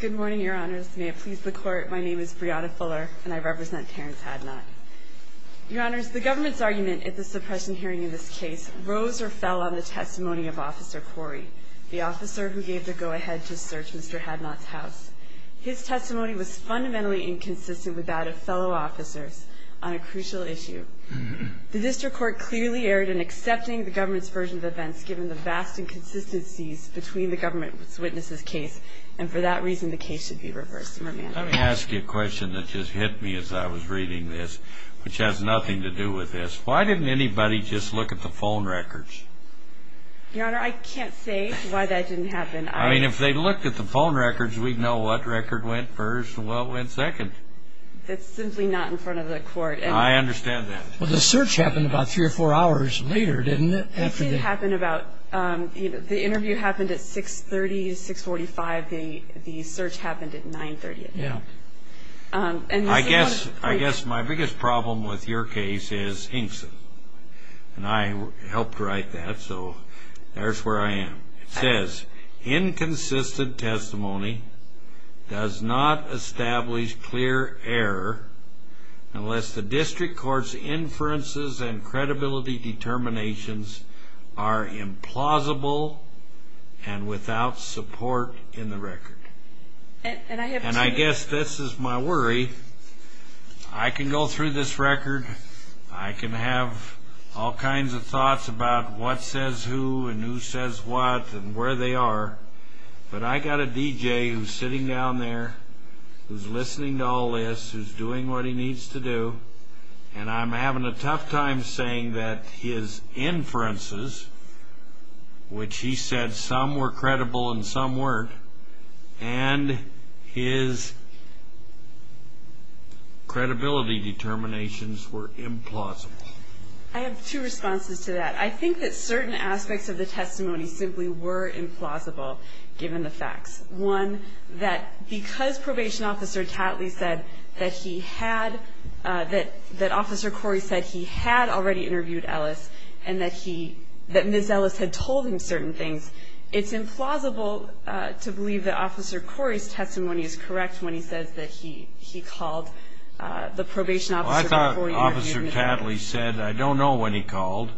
Good morning, Your Honors. May it please the Court, my name is Brianna Fuller, and I represent Terrance Hadnot. Your Honors, the government's argument at the suppression hearing in this case rose or fell on the testimony of Officer Corey, the officer who gave the go-ahead to search Mr. Hadnot's house. His testimony was fundamentally inconsistent with that of fellow officers on a crucial issue. The District Court clearly erred in accepting the government's version of events, given the vast inconsistencies between the government's witnesses' case, and for that reason the case should be reversed and remanded. Let me ask you a question that just hit me as I was reading this, which has nothing to do with this. Why didn't anybody just look at the phone records? Your Honor, I can't say why that didn't happen. I mean, if they looked at the phone records, we'd know what record went first and what went second. That's simply not in front of the Court. I understand that. Well, the search happened about three or four hours later, didn't it? It did happen about – the interview happened at 6.30, 6.45. The search happened at 9.30. Yeah. I guess my biggest problem with your case is Inkson, and I helped write that, so there's where I am. It says, Inconsistent testimony does not establish clear error unless the district court's inferences and credibility determinations are implausible and without support in the record. And I have two – And I guess this is my worry. I can go through this record. I can have all kinds of thoughts about what says who and who says what and where they are, but I've got a DJ who's sitting down there, who's listening to all this, who's doing what he needs to do, and I'm having a tough time saying that his inferences, which he said some were credible and some weren't, and his credibility determinations were implausible. I have two responses to that. I think that certain aspects of the testimony simply were implausible, given the facts. One, that because Probation Officer Tatley said that he had – that Officer Corey said he had already interviewed Ellis and that he – that Ms. Ellis had told him certain things, it's implausible to believe that Officer Corey's testimony is correct when he says that he called the Probation Officer before he interviewed Ms. Ellis. Well, I thought Officer Tatley said, I don't know when he called,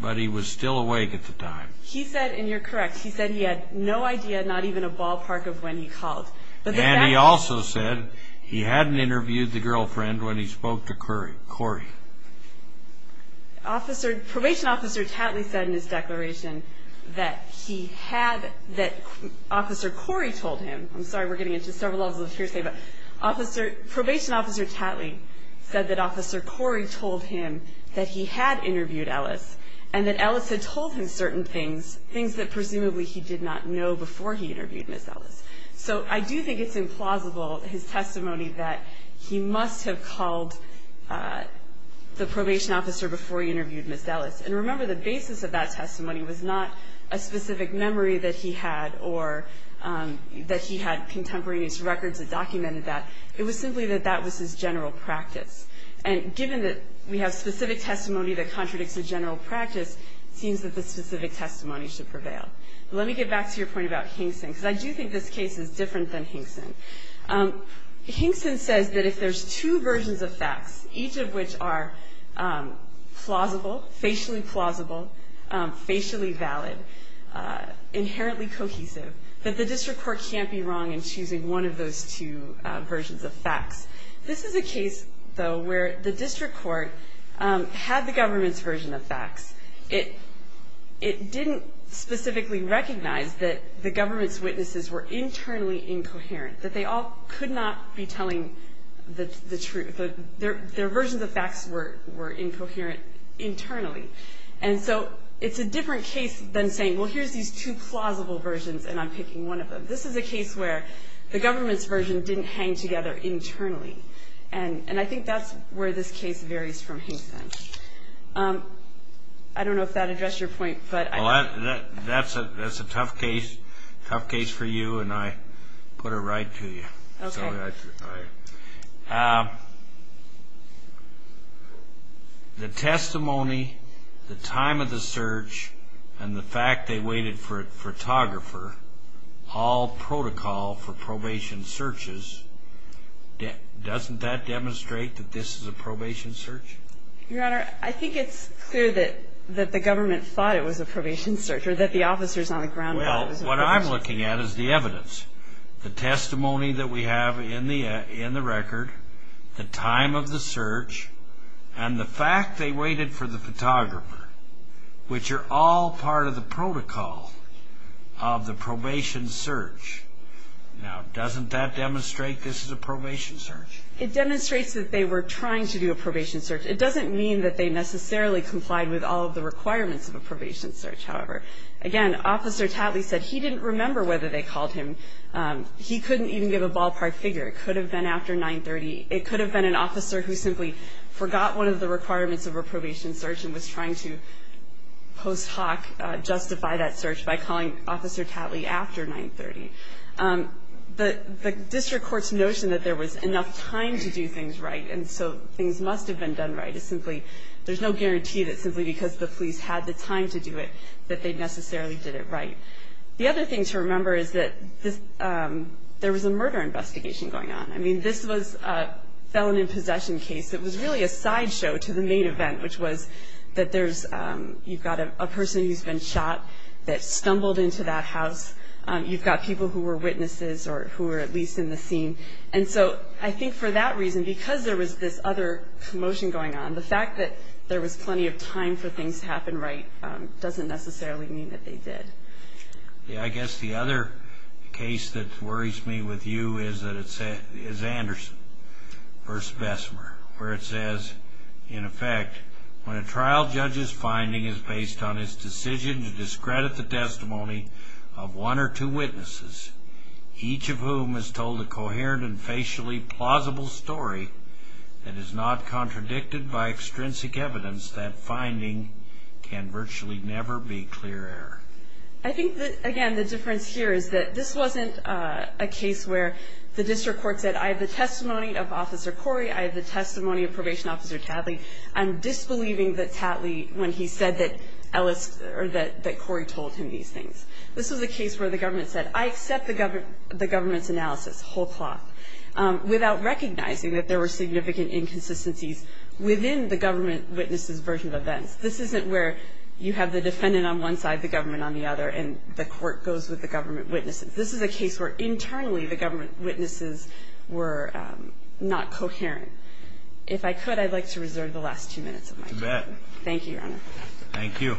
but he was still awake at the time. He said, and you're correct, he said he had no idea, not even a ballpark of when he called. And he also said he hadn't interviewed the girlfriend when he spoke to Corey. Officer – Probation Officer Tatley said in his declaration that he had – that Officer Corey told him – I'm sorry, we're getting into several levels of hearsay, but Officer – Probation Officer Tatley said that Officer Corey told him that he had interviewed Ellis and that Ellis had told him certain things, things that presumably he did not know before he interviewed Ms. Ellis. So I do think it's implausible, his testimony, that he must have called the Probation Officer before he interviewed Ms. Ellis. And remember, the basis of that testimony was not a specific memory that he had or that he had contemporaneous records that documented that. It was simply that that was his general practice. And given that we have specific testimony that contradicts a general practice, it seems that the specific testimony should prevail. Let me get back to your point about Hinkson, because I do think this case is different than Hinkson. Hinkson says that if there's two versions of facts, each of which are plausible, facially plausible, facially valid, inherently cohesive, that the district court can't be wrong in choosing one of those two versions of facts. This is a case, though, where the district court had the government's version of facts. It didn't specifically recognize that the government's witnesses were internally incoherent, that they all could not be telling the truth. Their versions of facts were incoherent internally. And so it's a different case than saying, well, here's these two plausible versions, and I'm picking one of them. This is a case where the government's version didn't hang together internally. And I think that's where this case varies from Hinkson. I don't know if that addressed your point, but I do. Well, that's a tough case, tough case for you, and I put it right to you. Okay. All right. The testimony, the time of the search, and the fact they waited for a photographer, all protocol for probation searches, doesn't that demonstrate that this is a probation search? Your Honor, I think it's clear that the government thought it was a probation search, or that the officers on the ground thought it was a probation search. Well, what I'm looking at is the evidence, the testimony that we have in the record, the time of the search, and the fact they waited for the photographer, which are all part of the protocol of the probation search. Now, doesn't that demonstrate this is a probation search? It demonstrates that they were trying to do a probation search. It doesn't mean that they necessarily complied with all of the requirements of a probation search, however. Again, Officer Tatley said he didn't remember whether they called him. He couldn't even give a ballpark figure. It could have been after 930. It could have been an officer who simply forgot one of the requirements of a probation search and was trying to post hoc justify that search by calling Officer Tatley after 930. The district court's notion that there was enough time to do things right, and so things must have been done right, is simply, there's no guarantee that simply because the police had the time to do it that they necessarily did it right. The other thing to remember is that there was a murder investigation going on. I mean, this was a felon in possession case. It was really a sideshow to the main event, which was that there's, you've got a person who's been shot that stumbled into that house. You've got people who were witnesses or who were at least in the scene. And so I think for that reason, because there was this other commotion going on, the fact that there was plenty of time for things to happen right doesn't necessarily mean that they did. I guess the other case that worries me with you is Anderson v. Bessemer, where it says, in effect, when a trial judge's finding is based on his decision to discredit the testimony of one or two witnesses, each of whom is told a coherent and facially plausible story that is not contradicted by extrinsic evidence, that finding can virtually never be clear error. I think that, again, the difference here is that this wasn't a case where the district court said, I have the testimony of Officer Corey, I have the testimony of Probation Officer Tatley. I'm disbelieving that Tatley, when he said that Corey told him these things. This was a case where the government said, I accept the government's analysis, whole cloth, without recognizing that there were significant inconsistencies within the government witness's version of events. This isn't where you have the defendant on one side, the government on the other, and the court goes with the government witnesses. This is a case where internally the government witnesses were not coherent. If I could, I'd like to reserve the last two minutes of my time. Thank you, Your Honor. Thank you.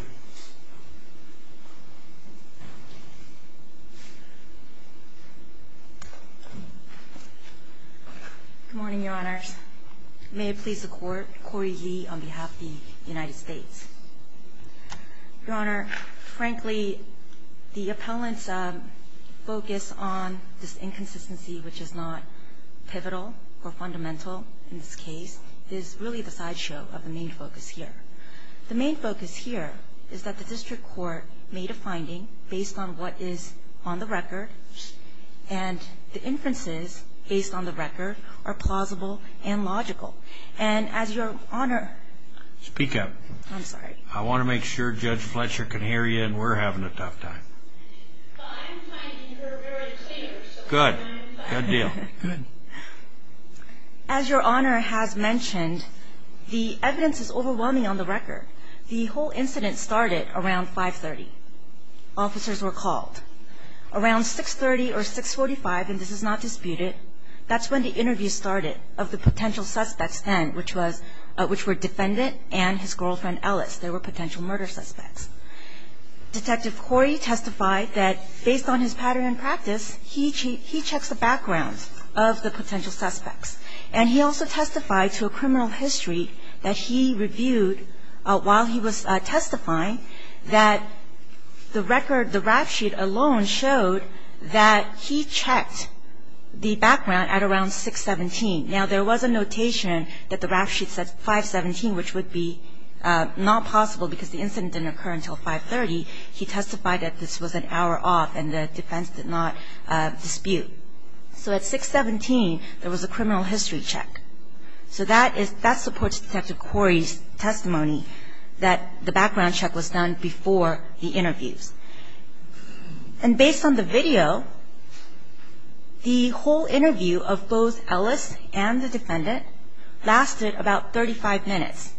Good morning, Your Honors. May it please the Court, Corey Yee on behalf of the United States. Your Honor, frankly, the appellant's focus on this inconsistency, which is not pivotal or fundamental in this case, is really the sideshow of the main focus here. The main focus here is that the district court made a finding based on what is on the record, and the inferences based on the record are plausible and logical. And as Your Honor... Speak up. I'm sorry. I want to make sure Judge Fletcher can hear you and we're having a tough time. Well, I'm finding her very clear, so... Good. Good deal. Good. As Your Honor has mentioned, the evidence is overwhelming on the record. The whole incident started around 530. Officers were called. Around 630 or 645, and this is not disputed, that's when the interview started of the potential suspects then, which were defendant and his girlfriend, Ellis. They were potential murder suspects. Detective Corey testified that based on his pattern and practice, he checks the background of the potential suspects. And he also testified to a criminal history that he reviewed while he was testifying that the record, the rap sheet alone, showed that he checked the background at around 617. Now, there was a notation that the rap sheet said 517, which would be not possible because the incident didn't occur until 530. He testified that this was an hour off and the defense did not dispute. So at 617, there was a criminal history check. So that supports Detective Corey's testimony that the background check was done before the interviews. And based on the video, the whole interview of both Ellis and the defendant lasted about 35 minutes.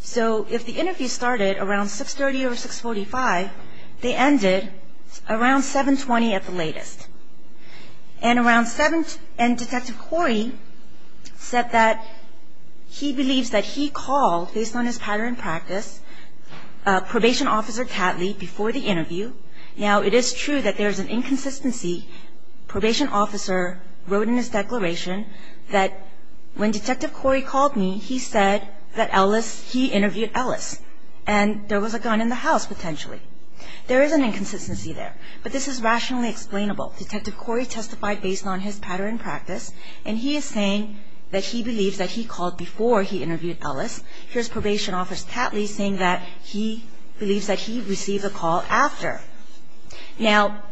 So if the interview started around 630 or 645, they ended around 720 at the latest. And Detective Corey said that he believes that he called, based on his pattern and practice, Probation Officer Catley before the interview. Now, it is true that there is an inconsistency. Probation Officer wrote in his declaration that when Detective Corey called me, he said that Ellis, he interviewed Ellis, and there was a gun in the house potentially. There is an inconsistency there. But this is rationally explainable. Detective Corey testified based on his pattern and practice, and he is saying that he believes that he called before he interviewed Ellis. Here's Probation Officer Catley saying that he believes that he received a call after. Now,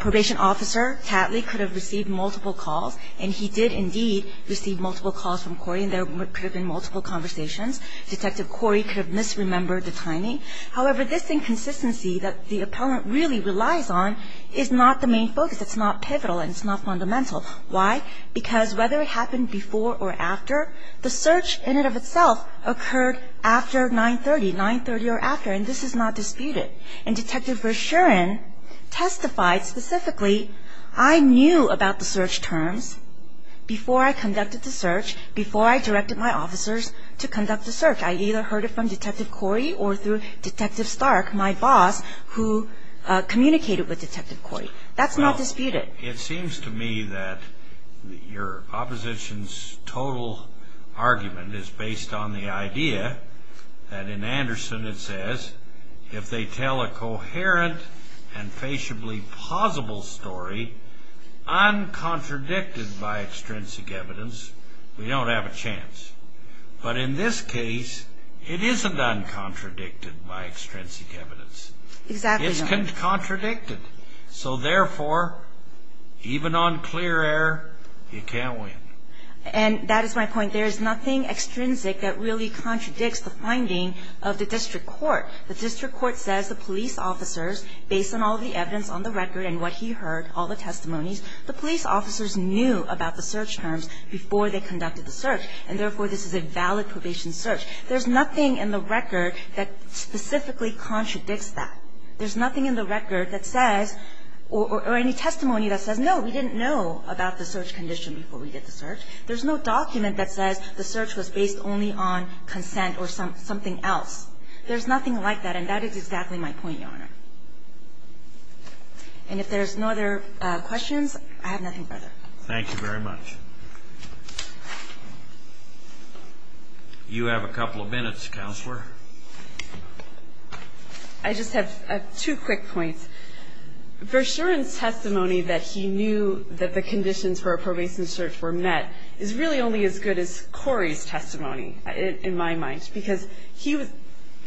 Probation Officer Catley could have received multiple calls, and he did indeed receive multiple calls from Corey, and there could have been multiple conversations. Detective Corey could have misremembered the timing. However, this inconsistency that the appellant really relies on is not the main focus. It's not pivotal, and it's not fundamental. Why? Because whether it happened before or after, the search in and of itself occurred after 930, 930 or after, and this is not disputed. And Detective Verschuren testified specifically, I knew about the search terms before I conducted the search, before I directed my officers to conduct the search. I either heard it from Detective Corey or through Detective Stark, my boss, who communicated with Detective Corey. That's not disputed. Well, it seems to me that your opposition's total argument is based on the idea that in Anderson it says, if they tell a coherent and faciably plausible story, uncontradicted by extrinsic evidence, we don't have a chance. But in this case, it isn't uncontradicted by extrinsic evidence. Exactly. It's contradicted. So therefore, even on clear air, you can't win. And that is my point. There is nothing extrinsic that really contradicts the finding of the district court. The district court says the police officers, based on all the evidence on the record and what he heard, all the testimonies, the police officers knew about the search terms before they conducted the search, and therefore, this is a valid probation search. There's nothing in the record that specifically contradicts that. There's nothing in the record that says, or any testimony that says, no, we didn't know about the search condition before we did the search. There's no document that says the search was based only on consent or something else. There's nothing like that, and that is exactly my point, Your Honor. And if there's no other questions, I have nothing further. Thank you very much. You have a couple of minutes, Counselor. I just have two quick points. Verschuren's testimony that he knew that the conditions for a probation search were met is really only as good as Corey's testimony, in my mind, because he was,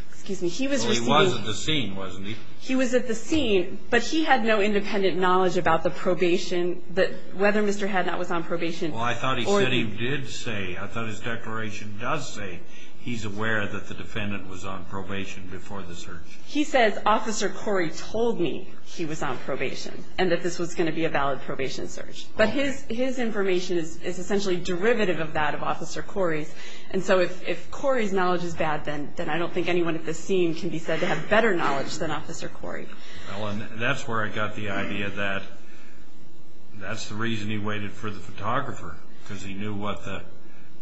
excuse me, he was receiving. Well, he was at the scene, wasn't he? He was at the scene, but he had no independent knowledge about the probation, that whether Mr. Hadnot was on probation. Well, I thought he said he did say. I thought his declaration does say he's aware that the defendant was on probation before the search. He says, Officer Corey told me he was on probation and that this was going to be a valid probation search. But his information is essentially derivative of that of Officer Corey's, and so if Corey's knowledge is bad, then I don't think anyone at the scene can be said to have better knowledge than Officer Corey. Well, and that's where I got the idea that that's the reason he waited for the photographer, because he knew what the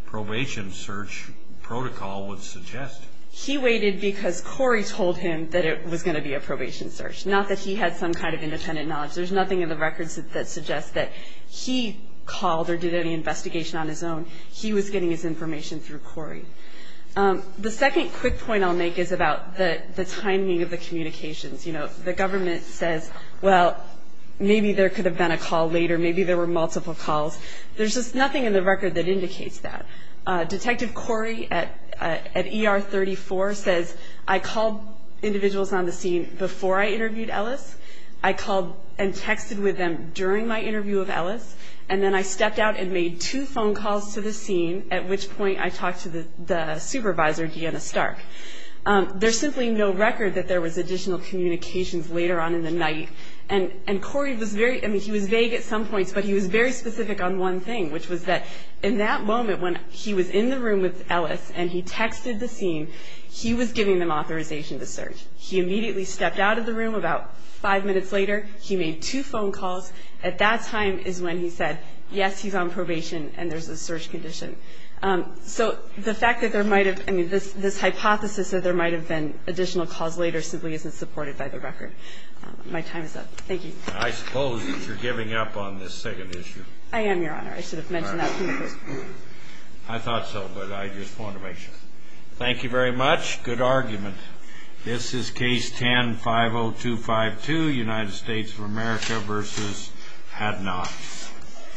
probation search protocol would suggest. He waited because Corey told him that it was going to be a probation search, not that he had some kind of independent knowledge. There's nothing in the records that suggests that he called or did any investigation on his own. He was getting his information through Corey. The second quick point I'll make is about the timing of the communications. You know, the government says, well, maybe there could have been a call later. Maybe there were multiple calls. There's just nothing in the record that indicates that. Detective Corey at ER 34 says, I called individuals on the scene before I interviewed Ellis. And then I stepped out and made two phone calls to the scene, at which point I talked to the supervisor, Deanna Stark. There's simply no record that there was additional communications later on in the night. And Corey was very – I mean, he was vague at some points, but he was very specific on one thing, which was that in that moment when he was in the room with Ellis and he texted the scene, he was giving them authorization to search. He immediately stepped out of the room about five minutes later. He made two phone calls. At that time is when he said, yes, he's on probation and there's a search condition. So the fact that there might have – I mean, this hypothesis that there might have been additional calls later simply isn't supported by the record. My time is up. Thank you. I suppose that you're giving up on this second issue. I am, Your Honor. I should have mentioned that previously. I thought so, but I just want to make sure. Thank you very much. Good argument. This is Case 10-50252, United States of America v. Hadnot.